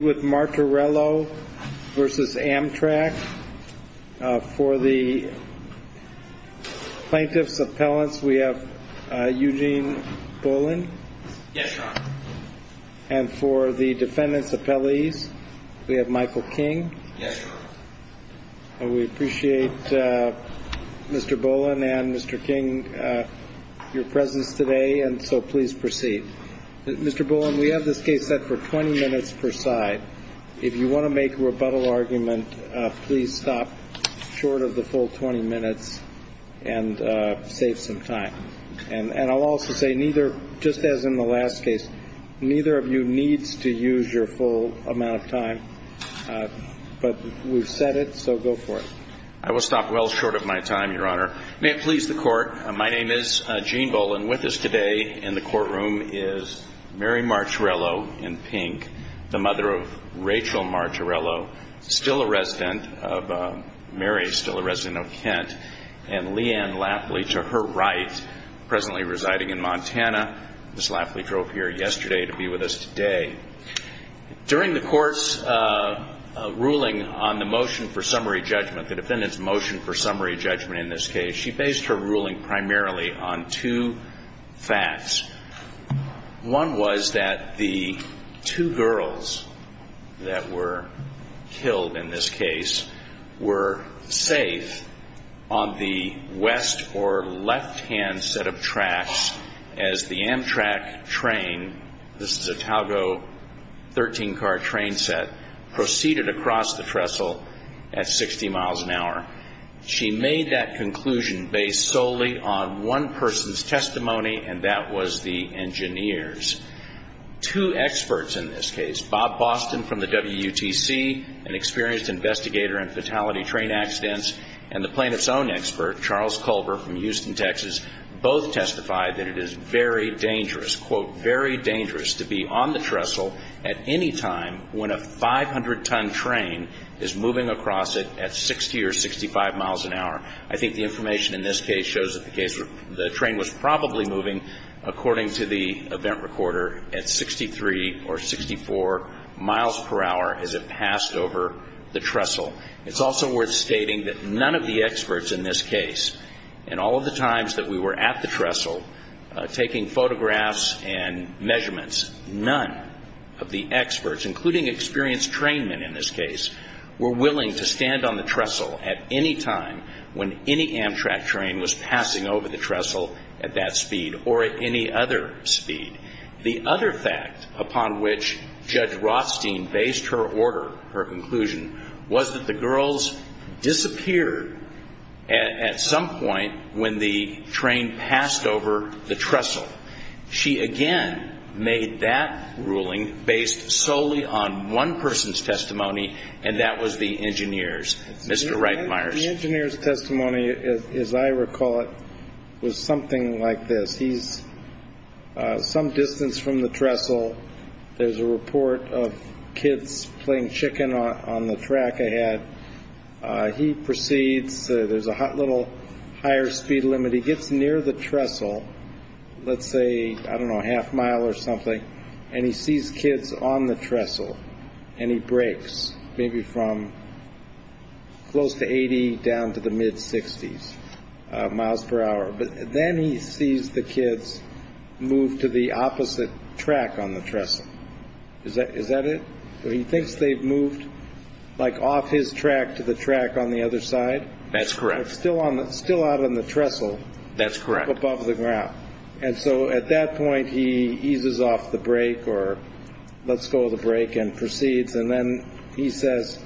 For the plaintiff's appellants we have Eugene Bolin. Yes, Your Honor. And for the defendant's appellees we have Michael King. Yes, Your Honor. We appreciate Mr. Bolin and Mr. King your presence today and so please proceed. Mr. Bolin, we have this case set for 20 minutes per side. If you want to make a rebuttal argument, please stop short of the full 20 minutes and save some time. And I'll also say neither, just as in the last case, neither of you needs to use your full amount of time. But we've set it so go for it. I will stop well short of my time, Your Honor. May it please the court, my name is Gene Bolin. With us today in the courtroom is Mary Marturello in pink, the mother of Rachel Marturello, still a resident of Kent, and Leanne Lafley to her right, presently residing in Montana. Ms. Lafley drove here yesterday to be with us today. During the court's ruling on the motion for summary judgment, the defendant's motion for summary judgment in this case, she based her ruling primarily on two facts. One was that the two girls that were killed in this case were safe on the west or left-hand set of tracks as the Amtrak train, this is a Togo 13-car train set, proceeded across the trestle at 60 miles an hour. She made that conclusion based solely on one person's testimony, and that was the engineers. Two experts in this case, Bob Boston from the WUTC, an experienced investigator in fatality train accidents, and the plaintiff's own expert, Charles Culver from Houston, Texas, both testified that it is very dangerous, quote, very dangerous to be on the trestle at any time when a 500-ton train is moving across it at 60 or 65 miles an hour. I think the information in this case shows that the train was probably moving, according to the event recorder, at 63 or 64 miles per hour as it passed over the trestle. It's also worth stating that none of the experts in this case, in all of the times that we were at the trestle taking photographs and measurements, none of the experts, including experienced trainmen in this case, were willing to stand on the trestle at any time when any Amtrak train was passing over the trestle at that speed or at any other speed. The other fact upon which Judge Rothstein based her order, her conclusion, was that the girls disappeared at some point when the train passed over the trestle. She again made that ruling based solely on one person's testimony, and that was the engineer's. Mr. Reitmeier. The engineer's testimony, as I recall it, was something like this. He's some distance from the trestle. There's a report of kids playing chicken on the track ahead. He proceeds. There's a little higher speed limit. He gets near the trestle, let's say, I don't know, a half mile or something, and he sees kids on the trestle, and he brakes maybe from close to 80 down to the mid 60s miles per hour. But then he sees the kids move to the opposite track on the trestle. Is that it? He thinks they've moved like off his track to the track on the other side. That's correct. Still out on the trestle. That's correct. Above the ground. And so at that point he eases off the brake or lets go of the brake and proceeds, and then he says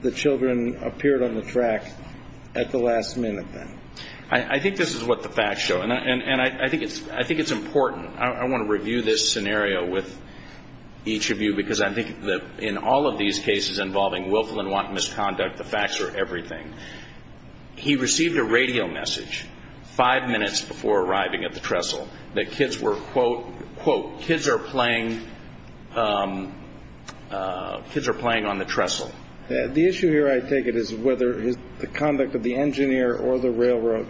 the children appeared on the track at the last minute then. I think this is what the facts show, and I think it's important. I want to review this scenario with each of you because I think in all of these cases involving willful and wanton misconduct, the facts are everything. He received a radio message five minutes before arriving at the trestle that kids were, quote, quote, kids are playing on the trestle. The issue here, I take it, is whether the conduct of the engineer or the railroad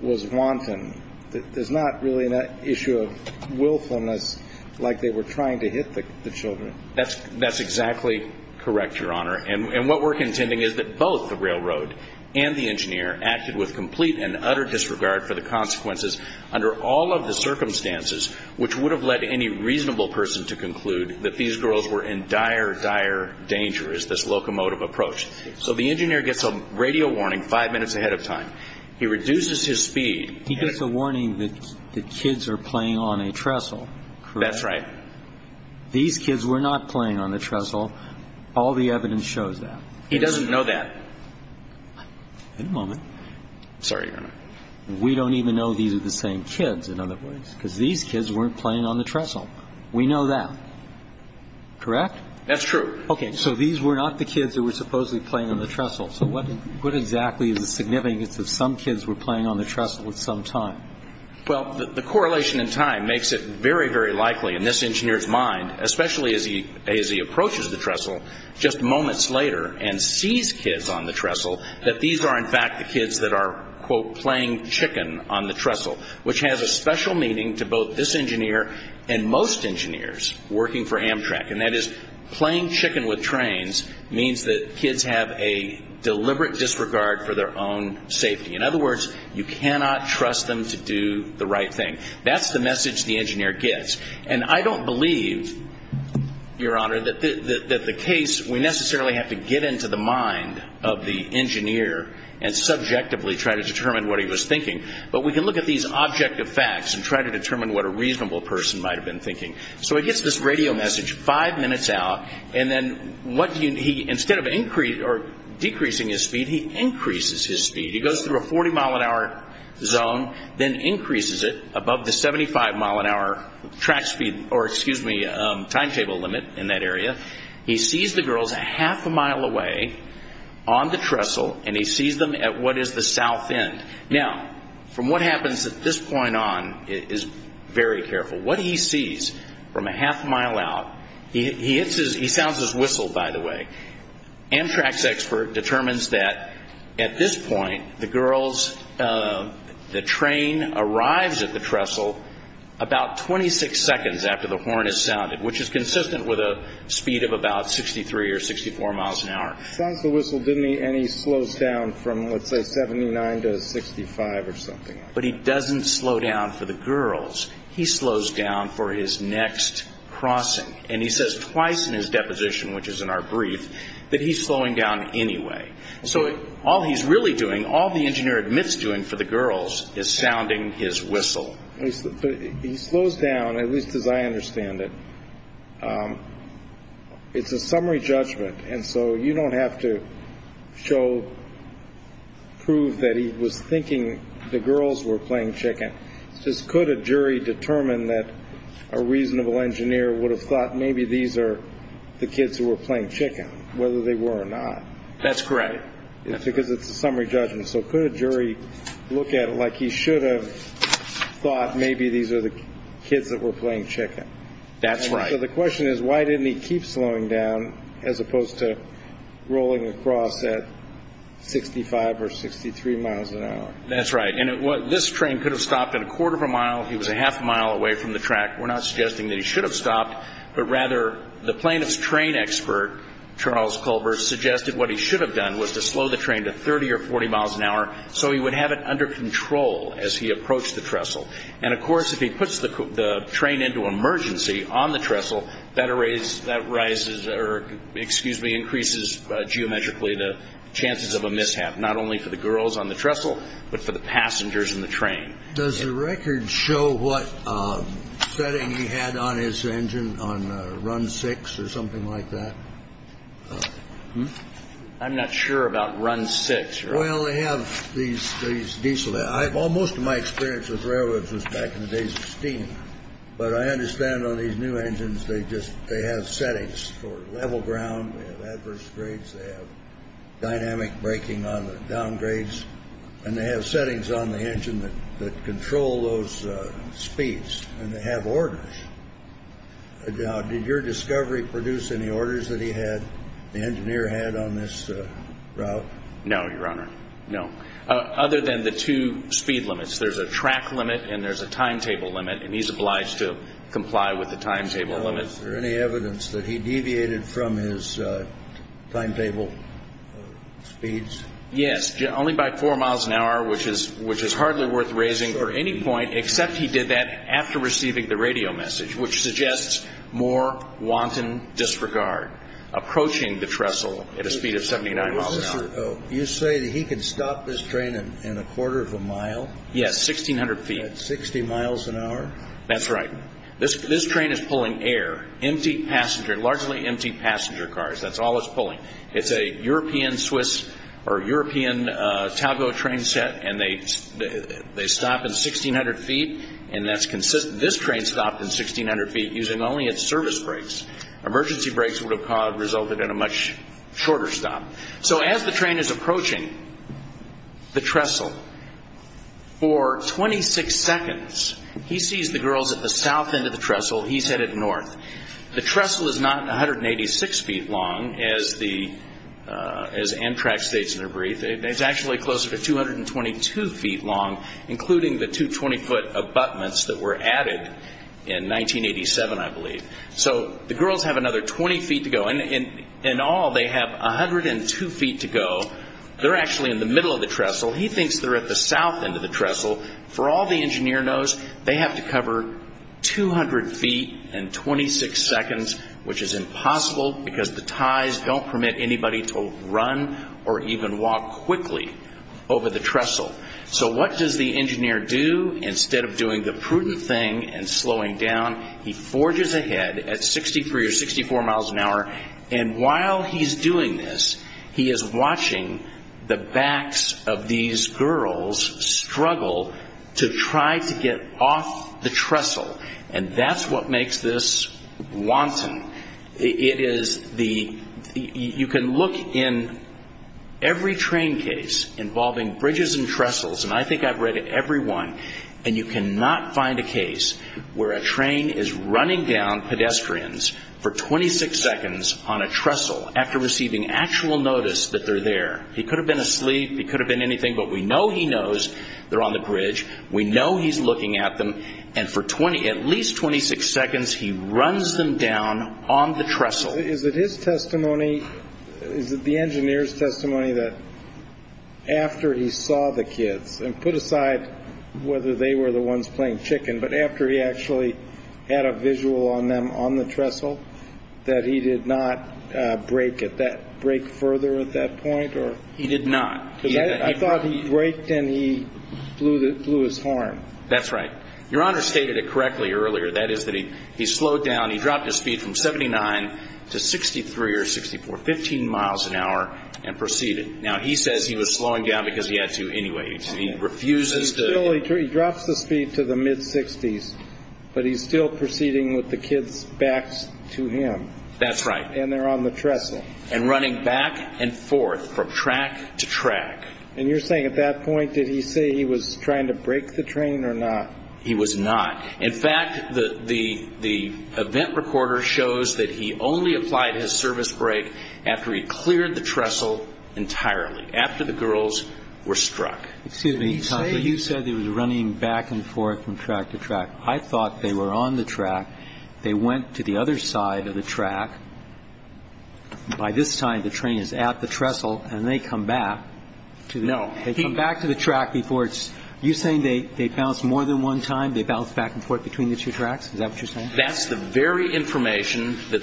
was wanton. There's not really an issue of willfulness like they were trying to hit the children. That's exactly correct, Your Honor. And what we're contending is that both the railroad and the engineer acted with complete and utter disregard for the consequences under all of the circumstances which would have led any reasonable person to conclude that these girls were in dire, dire danger as this locomotive approached. So the engineer gets a radio warning five minutes ahead of time. He reduces his speed. He gets a warning that the kids are playing on a trestle. That's right. These kids were not playing on the trestle. All the evidence shows that. He doesn't know that. Wait a moment. Sorry, Your Honor. We don't even know these are the same kids, in other words, because these kids weren't playing on the trestle. We know that. Correct? That's true. Okay. So these were not the kids that were supposedly playing on the trestle. So what exactly is the significance of some kids were playing on the trestle at some time? Well, the correlation in time makes it very, very likely in this engineer's mind, especially as he approaches the trestle just moments later and sees kids on the trestle, that these are, in fact, the kids that are, quote, playing chicken on the Most engineers working for Amtrak, and that is playing chicken with trains, means that kids have a deliberate disregard for their own safety. In other words, you cannot trust them to do the right thing. That's the message the engineer gets. And I don't believe, Your Honor, that the case, we necessarily have to get into the mind of the engineer and subjectively try to determine what he was thinking. But we can look at these objective facts and try to determine what a reasonable person might have been thinking. So he gets this radio message five minutes out, and then what he, instead of increasing or decreasing his speed, he increases his speed. He goes through a 40-mile-an-hour zone, then increases it above the 75-mile-an-hour track speed, or, excuse me, timetable limit in that area. He sees the girls a half a mile away on the trestle, and he sees them at what is the south end. Now, from what happens at this point on is very careful. What he sees from a half-mile out, he hits his, he sounds his whistle, by the way. Amtrak's expert determines that at this point, the girls, the train arrives at the trestle about 26 seconds after the horn is sounded, which is consistent with a speed of about 63 or 64 miles an hour. Sounds the whistle, didn't he? And he slows down from, let's say, 79 to 65 or something like that. But he doesn't slow down for the girls. He slows down for his next crossing. And he says twice in his deposition, which is in our brief, that he's slowing down anyway. So all he's really doing, all the engineer admits doing for the girls, is sounding his whistle. He slows down, at least as I understand it. It's a summary judgment. And so you don't have to show, prove that he was thinking the girls were playing chicken. Just could a jury determine that a reasonable engineer would have thought maybe these are the kids who were playing chicken, whether they were or not? That's correct. Because it's a summary judgment. So could a jury look at it like he should have thought maybe these are the kids that were playing chicken? That's right. So the question is, why didn't he keep slowing down as opposed to rolling across at 65 or 63 miles an hour? That's right. And this train could have stopped at a quarter of a mile. He was a half a mile away from the track. We're not suggesting that he should have stopped. But rather, the plaintiff's train expert, Charles Culver, suggested what he should have done was to slow the train to 30 or 40 miles an hour so he would have it under control as he approached the trestle. And of course, if he puts the train into emergency on the trestle, that arises or, excuse me, increases geometrically the chances of a mishap, not only for the girls on the trestle, but for the passengers in the train. Does the record show what setting he had on his engine on run six or something like that? I'm not sure about run six. Well, they have these diesel I've almost my experience with railroads was back in the days of steam. But I understand on these new engines, they just they have settings for level ground, adverse grades, they have dynamic braking on the downgrades and they have settings on the engine that control those speeds and they have orders. Now, did your discovery produce any orders that he had the engineer had on this route? No, Your Honor. No. Other than the two speed limits, there's a track limit and there's a timetable limit. And he's obliged to comply with the timetable limit. Is there any evidence that he deviated from his timetable speeds? Yes. Only by four miles an hour, which is which is hardly worth raising for any point except he did that after receiving the radio message, which suggests more wanton disregard approaching the trestle at a speed of seventy nine miles an hour. You say that he can stop this train in a quarter of a mile. Yes. Sixteen hundred feet. Sixty miles an hour. That's right. This this train is pulling air, empty passenger, largely empty passenger cars. That's all it's pulling. It's a European Swiss or European Togo train set. And they they stop in sixteen hundred feet. And that's consistent. This train stopped in sixteen hundred feet using only its service brakes. Emergency brakes would have resulted in a much shorter stop. So as the train is approaching the trestle for twenty six seconds, he sees the girls at the south end of the trestle. He's headed north. The trestle is not one hundred and eighty six feet long as the as Amtrak states in their brief. It's actually closer to two hundred and twenty two feet long, including the 220 foot abutments that were added in nineteen eighty seven, I believe. So the girls have another 20 feet to go and in all they have one hundred and two feet to go. They're actually in the middle of the trestle. He thinks they're at the south end of the trestle. For all the engineer knows, they have to cover two hundred feet and twenty six seconds, which is impossible because the ties don't permit anybody to run or even walk quickly over the trestle. So what does the engineer do? Instead of doing the prudent thing and slowing down, he forges ahead at sixty three or sixty four miles an hour. And while he's doing this, he is watching the backs of these girls struggle to try to get off the trestle. And that's what makes this wanton. It is the you can look in every train case involving bridges and trestles. And I think I've read it, everyone. And you cannot find a case where a train is running down pedestrians for twenty six seconds on a trestle after receiving actual notice that they're there. He could have been asleep. He could have been anything. But we know he knows they're on the bridge. We know he's looking at them. And for twenty at least twenty six seconds, he runs them down on the trestle. Is it his testimony? Is it the engineer's testimony that after he saw the kids and put aside whether they were the ones playing chicken, but after he actually had a visual on them on the trestle, that he did not break it that break further at that point or he did not. I thought he breaked and he blew that blew his horn. That's right. Your Honor stated it correctly earlier. That is that he he slowed down. He slowed down to 63 or 64, 15 miles an hour and proceeded. Now, he says he was slowing down because he had to anyway. He refuses to drop the speed to the mid 60s, but he's still proceeding with the kids back to him. That's right. And they're on the trestle and running back and forth from track to track. And you're saying at that point, did he say he was trying to break the train or not? He was not. In fact, the the the event recorder shows that he only applied his service break after he cleared the trestle entirely after the girls were struck. Excuse me, you said he was running back and forth from track to track. I thought they were on the track. They went to the other side of the track. By this time, the train is at the trestle and they come back to know they come back to the track before it's you saying they they bounce more than one time, they bounce back and forth between the two that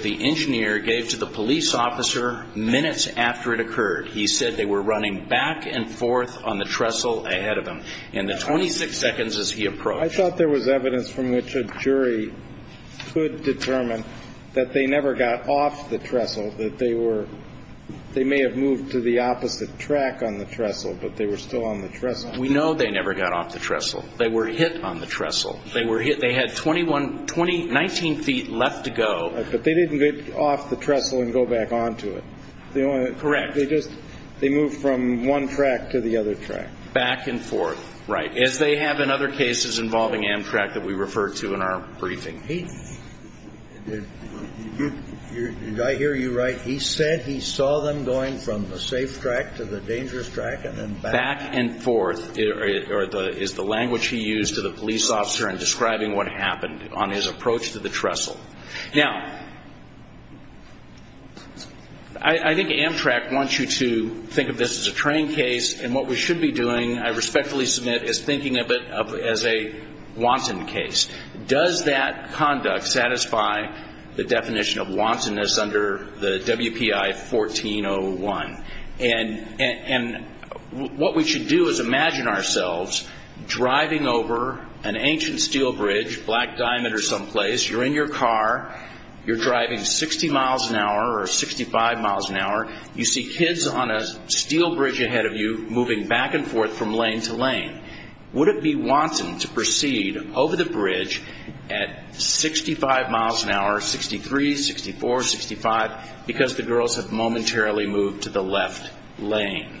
the engineer gave to the police officer minutes after it occurred. He said they were running back and forth on the trestle ahead of him in the 26 seconds as he approached. I thought there was evidence from which a jury could determine that they never got off the trestle, that they were they may have moved to the opposite track on the trestle, but they were still on the trestle. We know they never got off the trestle. They were hit on the trestle. They were hit. They were 20, 19 feet left to go. But they didn't get off the trestle and go back onto it. Correct. They just they moved from one track to the other track back and forth. Right. As they have in other cases involving Amtrak that we refer to in our briefing. Did I hear you right? He said he saw them going from the safe track to the dangerous track and then back and forth. Is the language he used to the police officer in describing what happened on his approach to the trestle. Now, I think Amtrak wants you to think of this as a train case and what we should be doing, I respectfully submit, is thinking of it as a wanton case. Does that conduct satisfy the definition of wantonness under the WPI 1401? And what we should do is imagine ourselves driving over an ancient steel bridge, black diamond or some place. You're in your car. You're driving 60 miles an hour or 65 miles an hour. You see kids on a steel bridge ahead of you moving back and forth from lane to lane. Would it be wanton to proceed over the bridge at 65 miles an hour, 63, 64, 65 because the girls have momentarily moved to the left lane?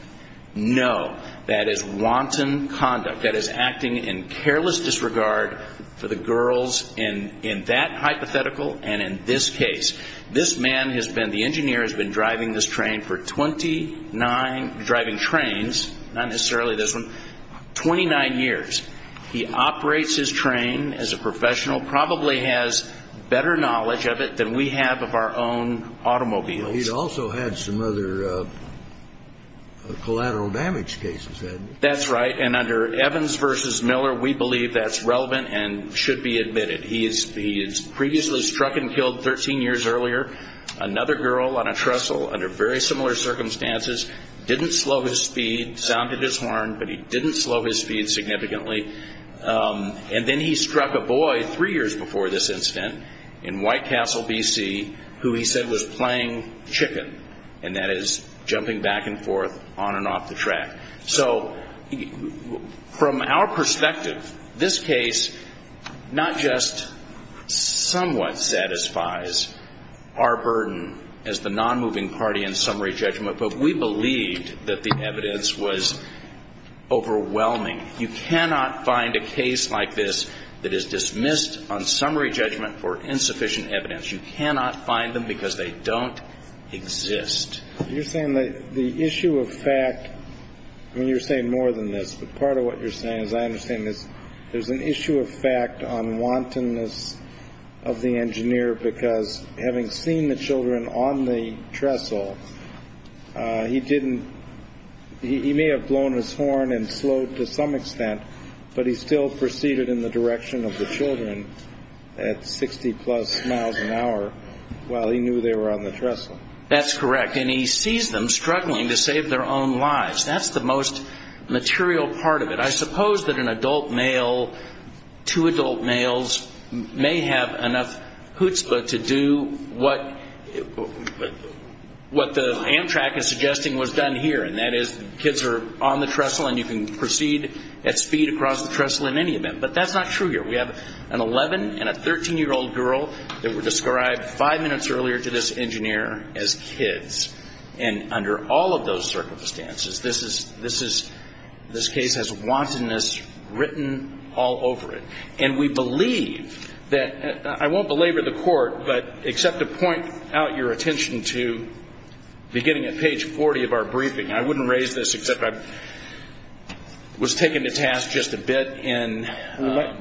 No. That is wanton conduct. That is acting in careless disregard for the girls in that hypothetical and in this case. This man has been, the engineer has been driving this train for 29, driving trains, not necessarily this one, 29 years. He operates his train as a professional, probably has better knowledge of it than we have of our own automobiles. He's also had some other collateral damage cases. That's right. And under Evans v. Miller, we believe that's relevant and should be admitted. He is previously struck and killed 13 years earlier. Another girl on a trestle under very similar circumstances didn't slow his speed, sounded his horn, but he didn't slow his speed significantly. And then he struck a boy three years before this incident in White Castle, B.C., who he said was playing chicken, and that is jumping back and forth on and off the track. So from our perspective, this case not just somewhat satisfies our burden as the nonmoving party in summary judgment, but we believed that the evidence was overwhelming. You cannot find a case like this that is dismissed on summary judgment for insufficient evidence. You cannot find them because they don't exist. You're saying that the issue of fact, I mean, you're saying more than this, but part of what you're saying, as I understand this, there's an issue of fact on wantonness of the engineer, because having seen the children on the trestle, he didn't, he may have blown his horn and slowed to some extent, but he still proceeded in the direction of the children at 60 plus miles an hour while he knew they were on the trestle. That's correct. And he sees them struggling to save their own lives. That's the most material part of it. I suppose that an adult male, two adult males may have enough chutzpah to do what the Amtrak is suggesting was done here, and that is the kids are on the trestle and you can proceed at speed across the trestle in any event. But that's not true here. We have an 11 and a 13-year-old girl that were described five minutes earlier to this engineer as kids. And under all of those circumstances, this is, this case has wantonness written all over it. And we believe that, I won't belabor the court, but except to point out your attention to beginning at page 40 of our briefing, I wouldn't raise this except I was taken to task just a bit in.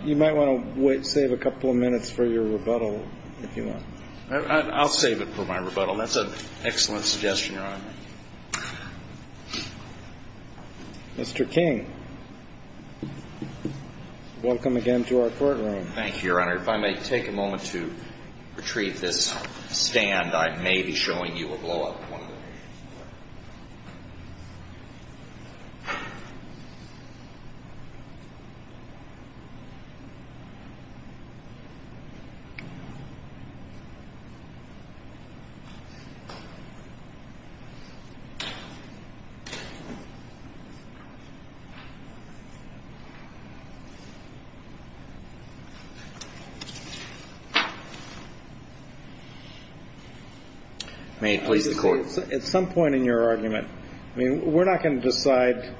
You might want to save a couple of minutes for your rebuttal, if you want. I'll save it for my rebuttal. That's an excellent suggestion, Your Honor. Mr. King, welcome again to our courtroom. Thank you, Your Honor. If I may take a moment to retrieve this stand, I may be showing you a blow-up of one of the patients. May it please the Court. At some point in your argument, I mean, we're not going to decide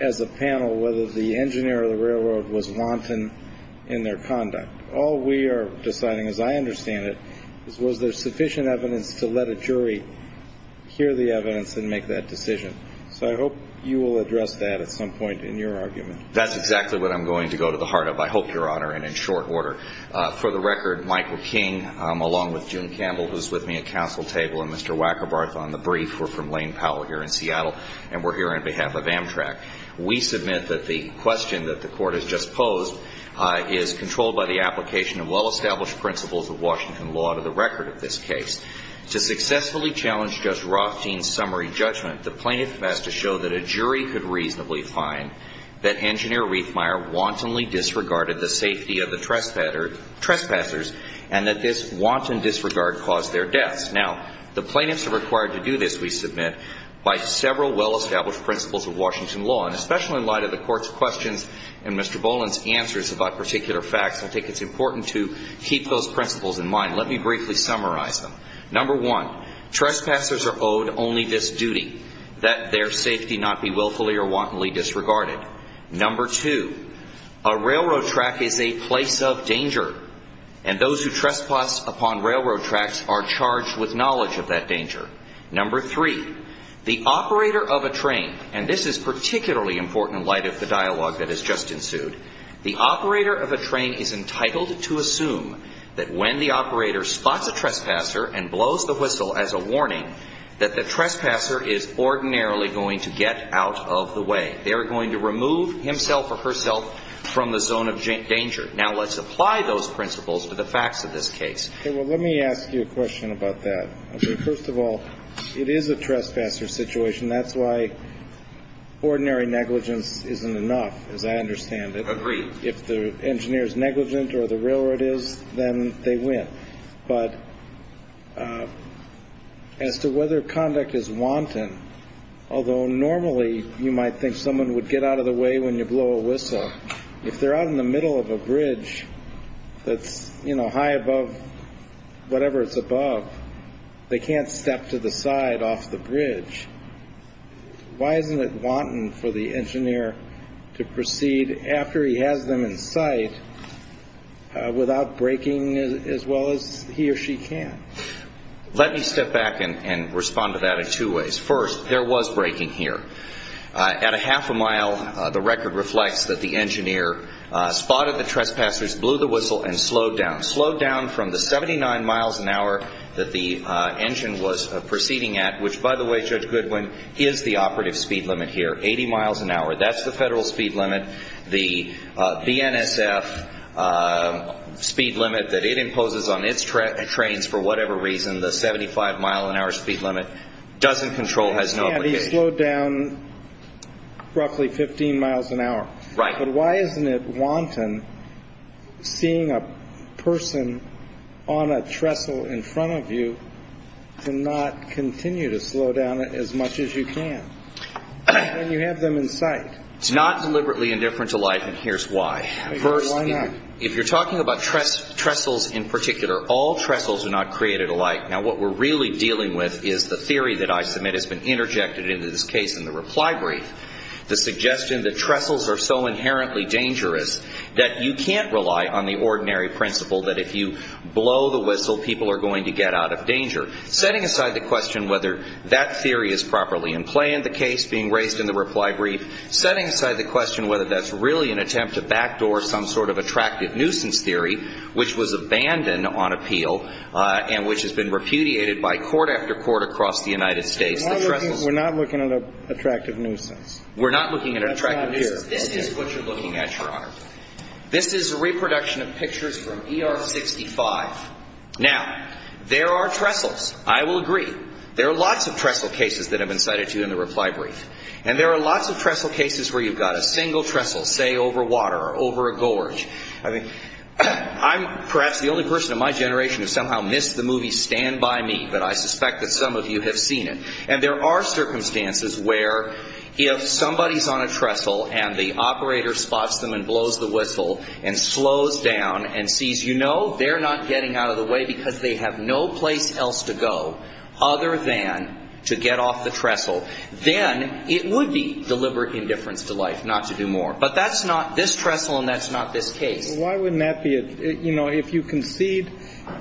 as a panel whether the engineer or the railroad was wanton in their conduct. All we are deciding, as I understand it, is was there sufficient evidence to let a jury hear the evidence and make that decision. So I hope you will address that at some point in your argument. That's exactly what I'm going to go to the heart of, I hope, Your Honor, and in short order. For the record, Michael King, along with June Campbell, who's with me at counsel table, and Mr. Wackerbarth on the brief, we're from Lane Powell here in Seattle, and we're here on behalf of Amtrak. We submit that the question that the Court has just posed is controlled by the application of well-established principles of Washington law to the record of this case. To successfully challenge Judge Rothstein's summary judgment, the plaintiff has to show that a jury could reasonably find that Engineer Reithmeier wantonly disregarded the safety of the trespassers and that this wanton disregard caused their deaths. Now, the plaintiffs are required to do this, we submit, by several well-established principles of Washington law, and especially in light of the Court's questions and Mr. Boland's answers about particular facts, I think it's important to keep those principles in mind. Let me briefly summarize them. Number one, trespassers are owed only this duty, that their safety not be willfully or wantonly disregarded. Number two, a railroad track is a place of danger, and those who trespass upon railroad tracks are charged with knowledge of that danger. Number three, the operator of a train, and this is particularly important in light of the dialogue that has just ensued, the operator of a train is entitled to assume that when the operator spots a trespasser and blows the whistle as a warning, that the trespasser is ordinarily going to get out of the way. They are going to remove himself or herself from the zone of danger. Now, let's apply those principles to the facts of this case. Well, let me ask you a question about that. First of all, it is a trespasser situation. That's why ordinary negligence isn't enough, as I understand it. If the engineer is negligent or the railroad is, then they win. But as to whether conduct is wanton, although normally you might think someone would get out of the way when you blow a whistle, if they're out in the middle of a bridge that's, you know, high above whatever it's above, they can't step to the side off the bridge. Why isn't it wanton for the engineer to proceed after he has them in sight without breaking as well as he or she can? Let me step back and respond to that in two ways. First, there was breaking here. At a spot of the trespassers blew the whistle and slowed down. Slowed down from the 79 miles an hour that the engine was proceeding at, which, by the way, Judge Goodwin, is the operative speed limit here, 80 miles an hour. That's the federal speed limit. The BNSF speed limit that it imposes on its trains for whatever reason, the 75 mile an hour speed limit, doesn't control, has no obligation. But he slowed down roughly 15 miles an hour. Right. But why isn't it wanton seeing a person on a trestle in front of you to not continue to slow down as much as you can when you have them in sight? It's not deliberately indifferent to life, and here's why. Why not? First, if you're talking about trestles in particular, all trestles are not created alike. Now, what we're really dealing with is the theory that I submit has been interjected into this case in the reply brief, the suggestion that trestles are so inherently dangerous that you can't rely on the ordinary principle that if you blow the whistle, people are going to get out of danger. Setting aside the question whether that theory is properly in play in the case being raised in the reply brief, setting aside the question whether that's really an attempt to backdoor some sort of attractive nuisance theory, which was abandoned on appeal and which has been repudiated by court after court across the United States, the trestles... We're not looking at an attractive nuisance. We're not looking at an attractive nuisance. This is what you're looking at, Your Honor. This is a reproduction of pictures from ER 65. Now, there are trestles. I will agree. There are lots of trestle cases that have been cited to you in the reply brief, and there are lots of trestle cases where you've got a single trestle, say, over water or over a gorge. I mean, I'm perhaps the only person in my generation who somehow missed the movie Stand By Me, but I suspect that some of you have seen it. And there are circumstances where if somebody's on a trestle and the operator spots them and blows the whistle and slows down and sees, you know, they're not getting out of the way because they have no place else to go other than to get off the trestle, then it would be deliberate indifference to life not to do more. But that's not this trestle and that's not this case. Why wouldn't that be? You know, if you concede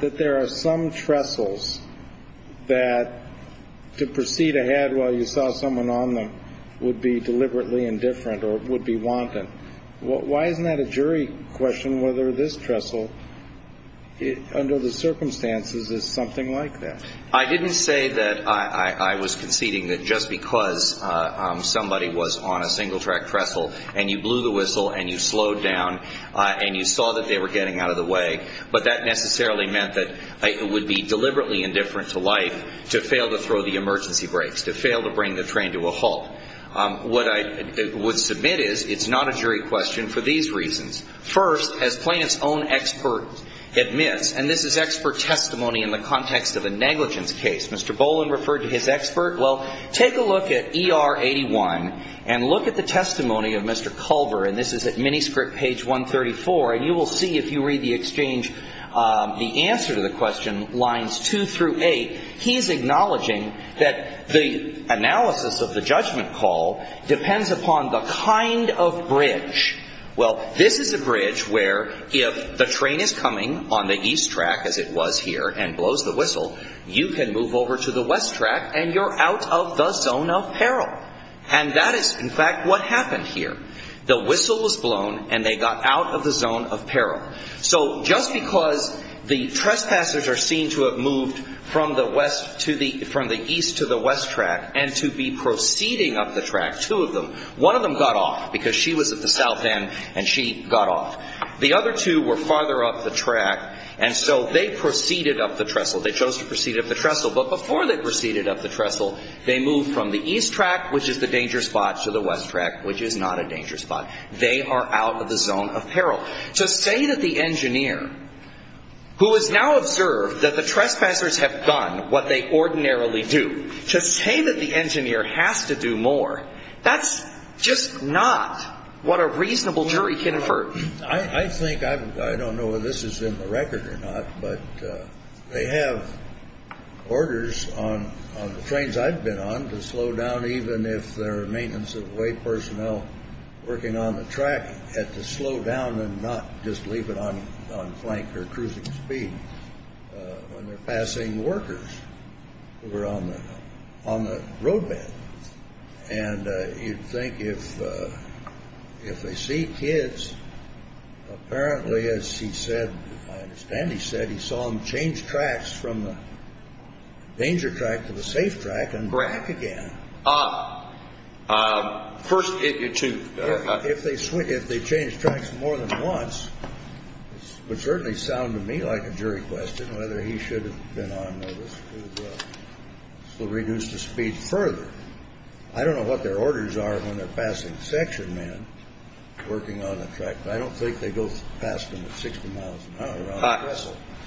that there are some trestles that to proceed ahead while you saw someone on them would be deliberately indifferent or would be wanton, why isn't that a jury question whether this trestle under the circumstances is something like that? I didn't say that I was conceding that just because somebody was on a single track trestle and you blew the whistle and you slowed down and you saw that they were getting out of the way, but that necessarily meant that it would be deliberately indifferent to life to fail to throw the emergency brakes, to fail to bring the train to a halt. What I would submit is it's not a jury question for these reasons. First, as plaintiff's own expert admits, and this is expert testimony in the context of a negligence case. Mr. Boland referred to his expert. Well, take a look at ER 81 and look at the testimony of Mr. Culver and this is at manuscript page 134 and you will see if you read the exchange, the answer to the question lines two through eight, he's acknowledging that the analysis of the judgment call depends upon the kind of bridge. Well, this is a bridge where if the train is coming on the east track as it was here and blows the whistle, you can move over to the west track and you're out of the zone of peril. And that is in fact what happened here. The whistle was blown and they got out of the zone of peril. So just because the trespassers are seen to have moved from the west to the, from the east to the west track and to be proceeding up the track, two of them, one of them got off because she was at the south end and she got off. The other two were farther up the track and so they proceeded up the trestle. They chose to proceed up the trestle. But before they proceeded up the trestle, they moved from the east track, which is the dangerous spot, to the west track, which is not a dangerous spot. They are out of the zone of peril. To say that the engineer, who has now observed that the trespassers have done what they ordinarily do, to say that the engineer has to do more, that's just not what a reasonable jury can infer. I think, I don't know if this is in the record or not, but they have orders on the trains I've been on to slow down even if there are maintenance of the way personnel working on the track had to slow down and not just leave it on, on flank or cruising speed when they're passing workers who were on the, on the roadbed. And you'd think if, if they see kids, apparently, as he said, I understand he said, he saw them change tracks from the danger track to the safe track and back again. Ah, ah, first, if they switch, if they change tracks more than once, it would certainly sound to me like a jury question whether he should have been on this to reduce the speed further. I don't know what their orders are when they're passing section men working on the track, but I don't think they go past them at 60 miles an hour.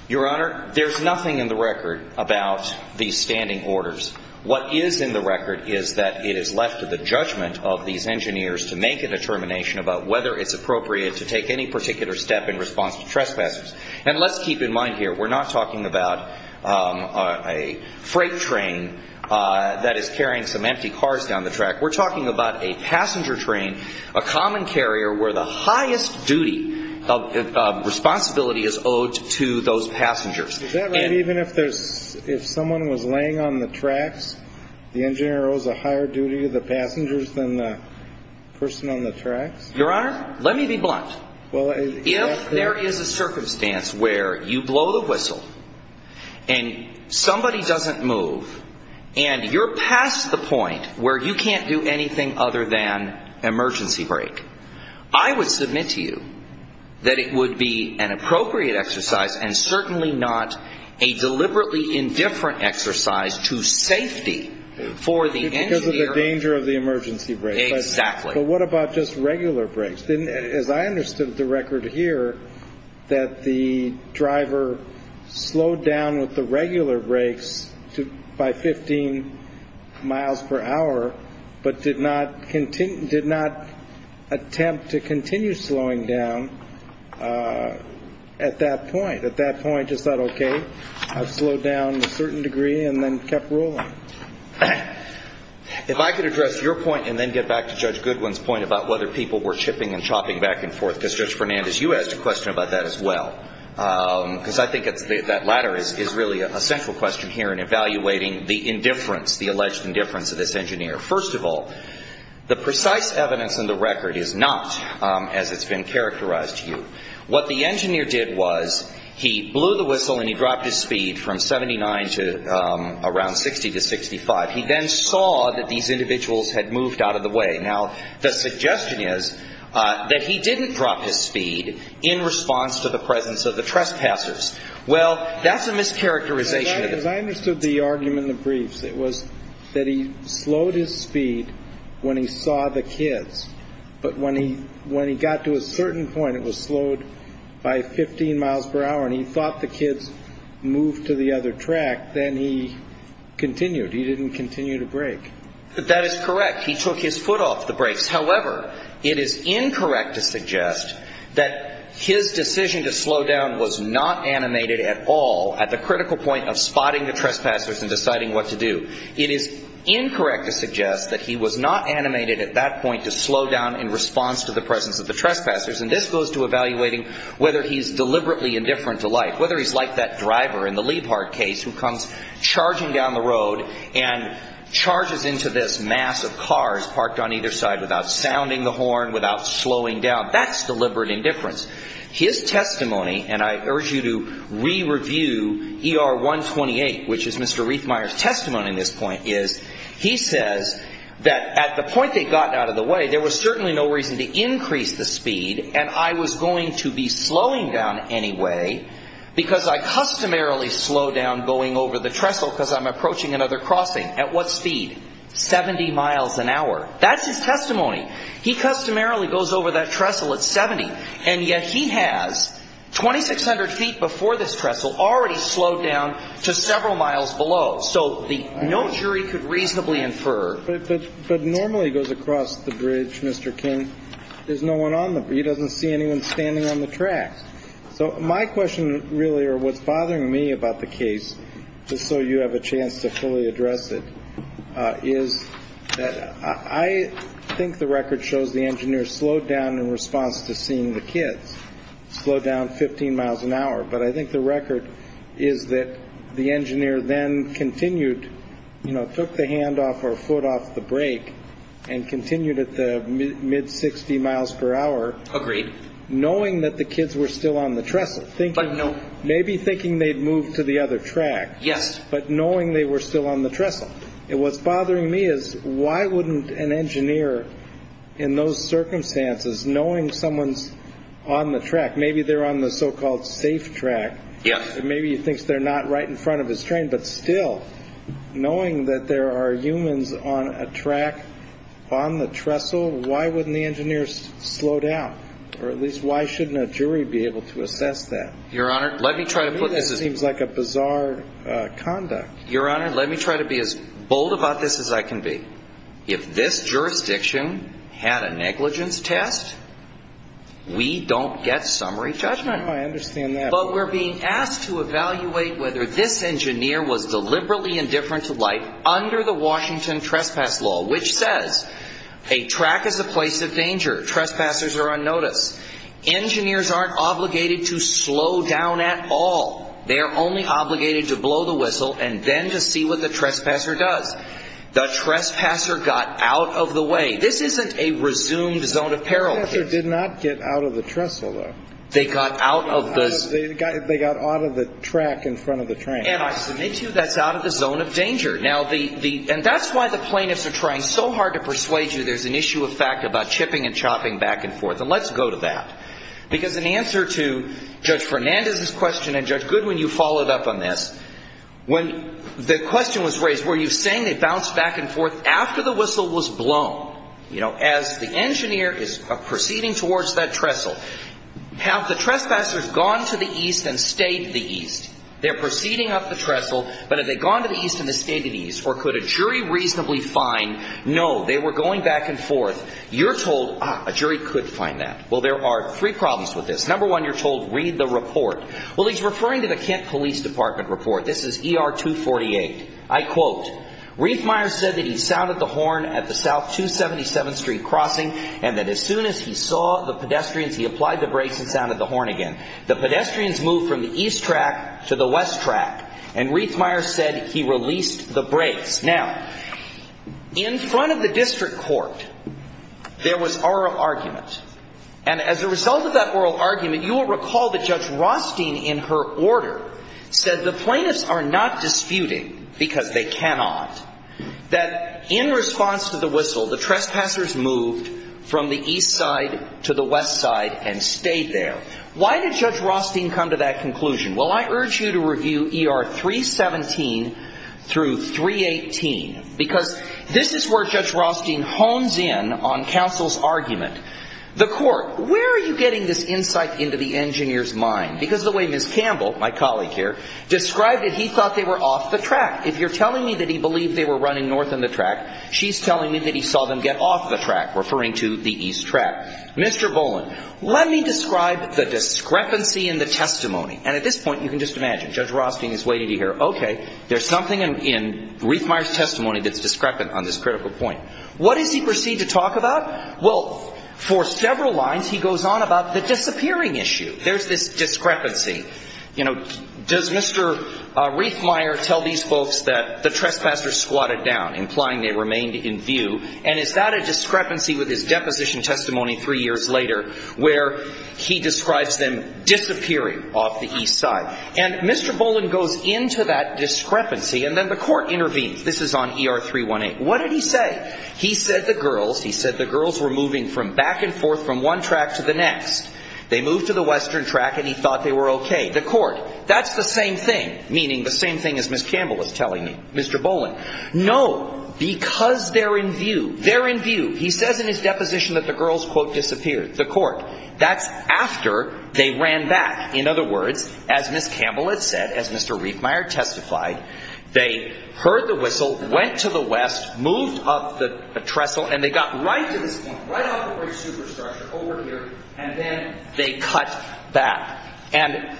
Your Honor, there's nothing in the record about these standing orders. What is in the record is that it is left to the judgment of these engineers to make a determination about whether it's appropriate to take any particular step in response to trespassers. And let's keep in mind here, we're not talking about a freight train that is carrying some empty cars down the track. We're talking about a passenger train, a common carrier where the highest duty of responsibility is owed to those passengers. Is that right? Even if there's, if someone was laying on the tracks, the engineer owes a higher duty to the passengers than the person on the tracks? Your Honor, let me be blunt. Well, if there is a circumstance where you blow the whistle and somebody doesn't move and you're past the point where you can't do anything other than emergency brake, I would submit to you that it would be an appropriate exercise and certainly not a deliberately indifferent exercise to safety for the engineer. Because of the danger of the emergency brake. Exactly. But what about just regular brakes? As I understood the record here, that the driver slowed down with the regular brakes by 15 miles per hour, but did not attempt to continue slowing down at that point. At that point, just thought, okay, I've slowed down a certain degree and then kept rolling. If I could address your point and then get back to Judge Goodwin's point about whether people were chipping and chopping back and forth, because Judge Fernandez, you asked a question about that as well. Because I think that latter is really a central question here in evaluating the indifference, the alleged indifference of this engineer. First of all, the precise evidence in the record is not as it's been characterized to you. What the engineer did was he blew the whistle and he dropped his speed from 79 to around 60 to 65. He then saw that these individuals had moved out of the way. Now, the suggestion is that he didn't drop his speed in response to the presence of the trespassers. Well, that's a mischaracterization. As I understood the argument in the briefs, it was that he slowed his speed when he saw the kids. But when he got to a certain point, it was slowed by 15 miles per hour and he thought the kids moved to the other track. Then he continued. He didn't continue to brake. That is correct. He took his foot off the brakes. However, it is incorrect to suggest that his decision to slow down was not animated at all at the critical point of spotting the trespassers and deciding what to do. It is incorrect to suggest that he was not animated at that point to slow down in response to the presence of the trespassers. And this goes to evaluating whether he's deliberately indifferent to light, whether he's like that driver in the Liebhardt case who comes charging down the road and has two cars parked on either side without sounding the horn, without slowing down. That's deliberate indifference. His testimony, and I urge you to re-review ER 128, which is Mr. Reithmeier's testimony in this point, is he says that at the point they got out of the way, there was certainly no reason to increase the speed and I was going to be slowing down anyway because I customarily slow down going over the trestle because I'm approaching another crossing. At what speed? 70 miles an hour. That's his testimony. He customarily goes over that trestle at 70 and yet he has 2,600 feet before this trestle already slowed down to several miles below. So no jury could reasonably infer. But normally he goes across the bridge, Mr. King. There's no one on the bridge. He doesn't see anyone standing on the tracks. So my question really or what's bothering me about the case, just so you have a better idea, is that I think the record shows the engineer slowed down in response to seeing the kids. Slowed down 15 miles an hour. But I think the record is that the engineer then continued, you know, took the hand off or foot off the brake and continued at the mid 60 miles per hour. Agreed. Knowing that the kids were still on the trestle. But no. Maybe thinking they'd moved to the other track. Yes. But knowing they were still on the trestle. And what's bothering me is why wouldn't an engineer in those circumstances knowing someone's on the track. Maybe they're on the so-called safe track. Yes. Maybe he thinks they're not right in front of his train. But still, knowing that there are humans on a track on the trestle, why wouldn't the engineer slow down? Or at least why shouldn't a jury be able to assess that? Your Honor, let me try to put this. This seems like a bizarre conduct. Your Honor, let me try to be as bold about this as I can be. If this jurisdiction had a negligence test, we don't get summary judgment. I understand that. But we're being asked to evaluate whether this engineer was deliberately indifferent to life under the Washington Trespass Law, which says a track is a place of danger. Trespassers are unnoticed. Engineers aren't obligated to slow down at all. They are only obligated to blow the whistle and then to see what the trespasser does. The trespasser got out of the way. This isn't a resumed zone of peril. The trespasser did not get out of the trestle, though. They got out of the... They got out of the track in front of the train. And I submit to you that's out of the zone of danger. And that's why the plaintiffs are trying so hard to persuade you there's an issue of fact about chipping and chopping back and forth. And let's go to that. Because in answer to Judge Fernandez's question and Judge Goodwin, you followed up on this. When the question was raised, were you saying they bounced back and forth after the whistle was blown? You know, as the engineer is proceeding towards that trestle, have the trespassers gone to the east and stayed to the east? They're proceeding up the trestle. But have they gone to the east and stayed to the east? Or could a jury reasonably find, no, they were going back and forth? You're told, ah, a jury could find that. Well, there are three problems with this. Number one, you're told, read the report. Well, he's referring to the Kent Police Department report. This is ER 248. I quote, Reithmeier said that he sounded the horn at the South 277 Street crossing and that as soon as he saw the pedestrians, he applied the brakes and sounded the horn again. The pedestrians moved from the east track to the west track. And Reithmeier said he released the brakes. Now, in front of the district court, there was oral argument. And as a result of that oral argument, you will recall that Judge Rostein in her order said the plaintiffs are not disputing because they cannot, that in response to the whistle, the trespassers moved from the east side to the west side and stayed there. Why did Judge Rostein come to that conclusion? Well, I urge you to review ER 317 through 318 because this is where Judge Rostein hones in on counsel's argument. The court, where are you getting this insight into the engineer's mind? Because the way Ms. Campbell, my colleague here, described it, he thought they were off the track. If you're telling me that he believed they were running north on the track, she's telling me that he saw them get off the track, referring to the east track. Mr. Boland, let me describe the discrepancy in the testimony. And at this point, you can just imagine, Judge Rostein is waiting to hear, okay, there's something in Reithmeier's testimony that's discrepant on this critical point. What does he proceed to talk about? Well, for several lines, he goes on about the disappearing issue. There's this discrepancy. You know, does Mr. Reithmeier tell these folks that the trespassers squatted down, implying they remained in view? And is that a discrepancy with his deposition testimony three years later, where he describes them disappearing off the east side? And Mr. Boland goes into that discrepancy, and then the court intervenes. This is on ER 318. What did he say? He said the girls, he said the girls were moving from back and forth from one track to the next. They moved to the western track, and he thought they were okay. The court, that's the same thing, meaning the same thing as Ms. Campbell was telling me, Mr. Boland. No, because they're in view. They're in view. He says in his deposition that the girls, quote, disappeared. The court. That's after they ran back. In other words, as Ms. Campbell had said, as Mr. Reithmeier testified, they heard the whistle, went to the west, moved up the trestle, and they got right to this point, right off the bridge superstructure, over here, and then they cut back. And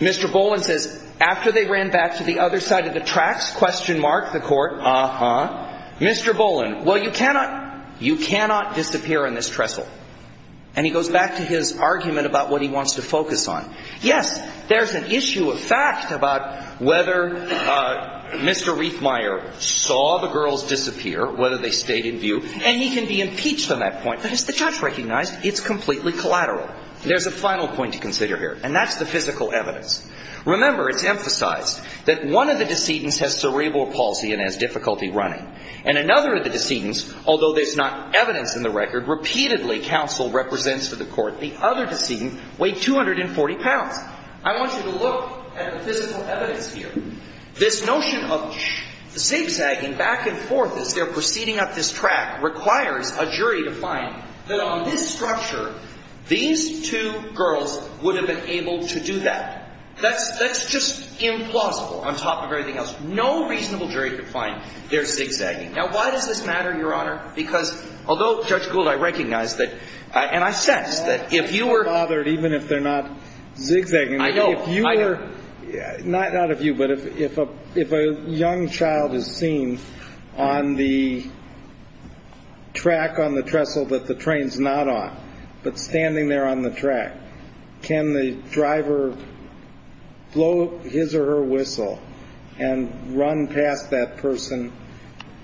Mr. Boland says, after they ran back to the other side of the tracks, question mark, the court, uh-huh. Mr. Boland, well, you cannot, you cannot disappear in this trestle. And he goes back to his argument about what he wants to focus on. Yes, there's an issue of fact about whether, uh, Mr. Reithmeier saw the girls disappear, whether they stayed in view, and he can be impeached on that point, but as the judge recognized, it's completely collateral. There's a final point to consider here, and that's the physical evidence. Remember, it's emphasized that one of the decedents has cerebral palsy and has difficulty running, and another of the decedents, although there's not evidence in the record, repeatedly counsel represents to the court the other decedent weighed 240 pounds. I want you to look at the physical evidence here. This notion of zigzagging back and forth as they're proceeding up this track requires a jury to find that on this structure, these two girls would have been able to do that. That's just implausible on top of everything else. No reasonable jury could find they're zigzagging. Now, why does this matter, Your Honor? Because although, Judge Gould, I recognize that, and I sense that if you were... I'm bothered even if they're not zigzagging. I know, I know. If you were, not of you, but if a young child is seen on the track on the trestle that the train's not on, but standing there on the track, can the driver blow his or her whistle and run past that person?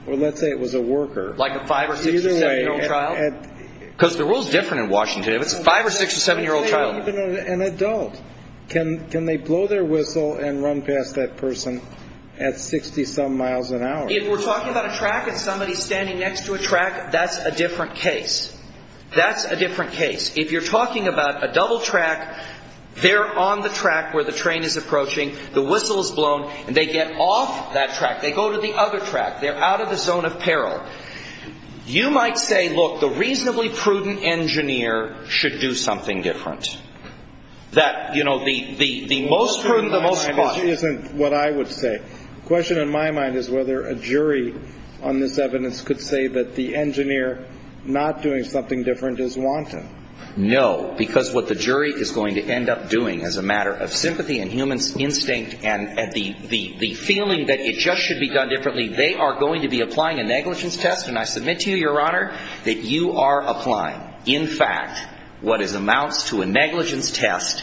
Well, let's say it was a worker. Like a 5- or 6- or 7-year-old child? Because the rule's different in Washington. If it's a 5- or 6- or 7-year-old child... Even an adult. Can they blow their whistle and run past that person at 60-some miles an hour? If we're talking about a track and somebody's standing next to a track, that's a different case. That's a different case. If you're talking about a double track, they're on the track where the train is approaching, the whistle's blown, and they get off that track. They go to the other track. They're out of the zone of peril. You might say, look, the reasonably prudent engineer should do something different. That, you know, the most prudent, the most cautious... That isn't what I would say. The question in my mind is whether a jury on this evidence could say that the engineer not doing something different is wanton. No, because what the jury is going to end up doing as a matter of sympathy and human instinct and the feeling that it just should be done differently, they are going to be applying a negligence test, and I submit to you, Your Honor, that you are applying. In fact, what amounts to a negligence test,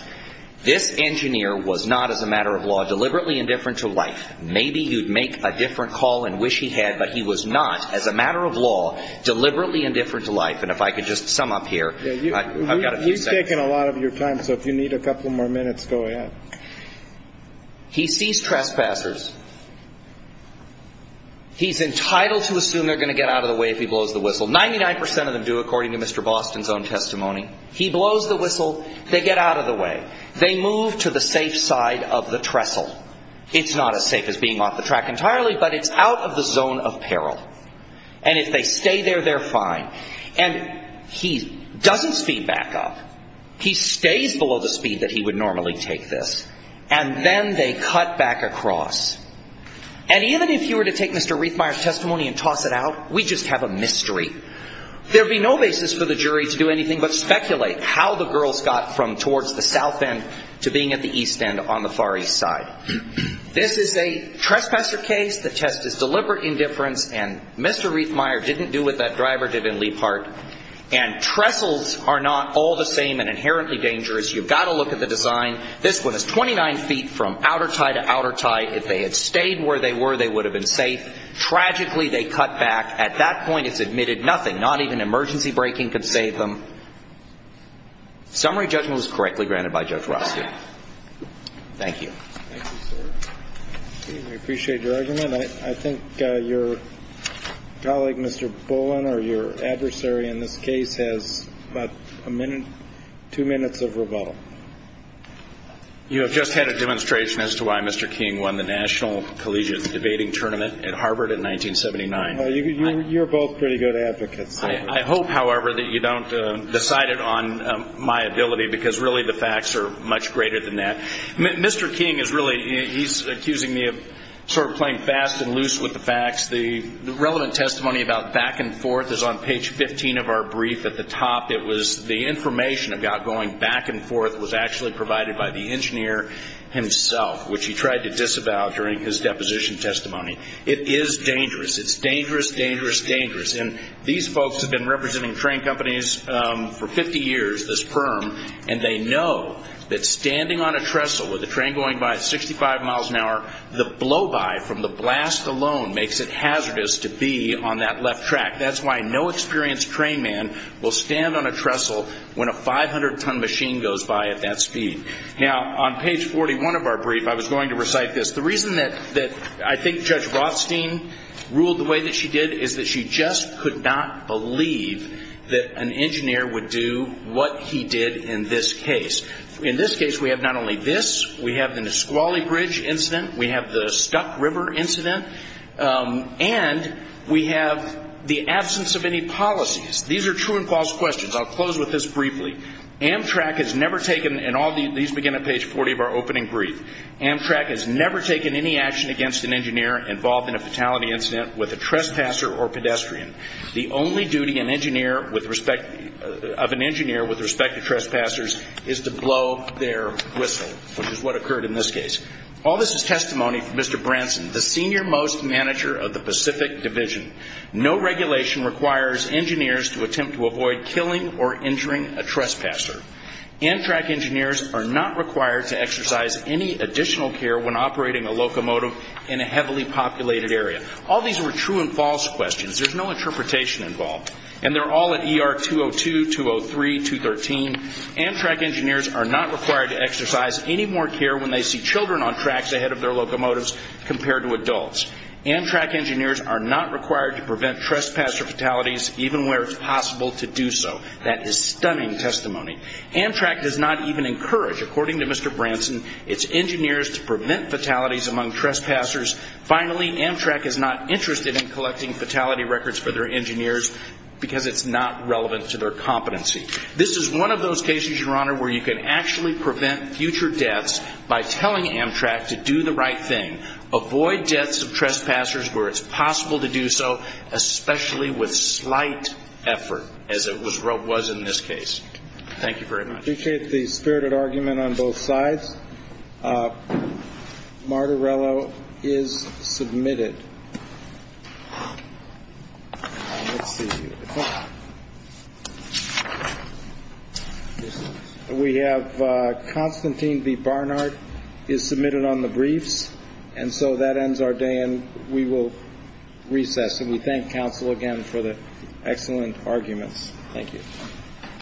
this engineer was not, as a matter of law, deliberately indifferent to life. Maybe you'd make a different call and wish he had, but he was not, as a matter of law, deliberately indifferent to life. And if I could just sum up here... He's taking a lot of your time, so if you need a couple more minutes, go ahead. He sees trespassers. He's entitled to assume they're going to get out of the way if he blows the whistle. 99% of them do, according to Mr. Boston's own testimony. He blows the whistle, they get out of the way. They move to the safe side of the trestle. It's not as safe as being off the track entirely, but it's out of the zone of peril. And if they stay there, they're fine. And he doesn't speed back up. He stays below the speed that he would normally take this. And then they cut back across. And even if you were to take Mr. Reithmeyer's testimony and toss it out, we'd just have a mystery. There'd be no basis for the jury to do anything but speculate how the girls got from towards the south end to being at the east end on the far east side. This is a trespasser case. The test is deliberate indifference. And Mr. Reithmeyer didn't do what that driver did in Leap Heart. And trestles are not all the same and inherently dangerous. You've got to look at the design. This one is 29 feet from outer tie to outer tie. If they had stayed where they were, they would have been safe. Tragically, they cut back. At that point, it's admitted nothing. Not even emergency braking could save them. Summary judgment was correctly granted by Judge Rothschild. Thank you. Thank you, sir. I appreciate your argument. I think your colleague, Mr. Bullen, or your adversary in this case, has about a minute, two minutes of rebuttal. You have just had a demonstration as to why Mr. King won the National Collegiate Debating Tournament at Harvard in 1979. You're both pretty good advocates. I hope, however, that you don't decide it on my ability because really the facts are much greater than that. Mr. King is really, he's accusing me of sort of playing fast and loose with the facts. The relevant testimony about back and forth is on page 15 of our brief at the top. It was the information about going back and forth was actually provided by the engineer himself, which he tried to disavow during his deposition testimony. It is dangerous. It's dangerous, dangerous, dangerous. And these folks have been representing train companies for 50 years, this firm, and they know that standing on a trestle with a train going by at 65 miles an hour, the blow-by from the blast alone makes it hazardous to be on that left track. That's why no experienced train man will stand on a trestle when a 500-ton machine goes by at that speed. Now, on page 41 of our brief, I was going to recite this. The reason that I think Judge Rothstein ruled the way that she did is that she just could not believe that an engineer would do what he did in this case. In this case, we have not only this. We have the Nisqually Bridge incident. We have the Stuck River incident. And we have the absence of any policies. These are true and false questions. I'll close with this briefly. Amtrak has never taken, and these begin on page 40 of our opening brief, Amtrak has never taken any action against an engineer involved in a fatality incident with a trespasser or pedestrian. The only duty of an engineer with respect to trespassers is to blow their whistle, which is what occurred in this case. All this is testimony from Mr. Branson, the senior-most manager of the Pacific Division. No regulation requires engineers to attempt to avoid killing or injuring a trespasser. Amtrak engineers are not required to exercise any additional care when operating a locomotive in a heavily populated area. All these were true and false questions. There's no interpretation involved. And they're all at ER 202, 203, 213. Amtrak engineers are not required to exercise any more care when they see children on tracks ahead of their locomotives compared to adults. Amtrak engineers are not required to prevent trespasser fatalities even where it's possible to do so. That is stunning testimony. Amtrak does not even encourage, according to Mr. Branson, its engineers to prevent fatalities among trespassers. Finally, Amtrak is not interested in collecting fatality records for their engineers because it's not relevant to their competency. This is one of those cases, Your Honor, where you can actually prevent future deaths by telling Amtrak to do the right thing. Avoid deaths of trespassers where it's possible to do so, especially with slight effort, as it was in this case. Thank you very much. I appreciate the spirited argument on both sides. Martorello is submitted. We have Constantine B. Barnard is submitted on the briefs. And so that ends our day, and we will recess. And we thank counsel again for the excellent arguments. Thank you.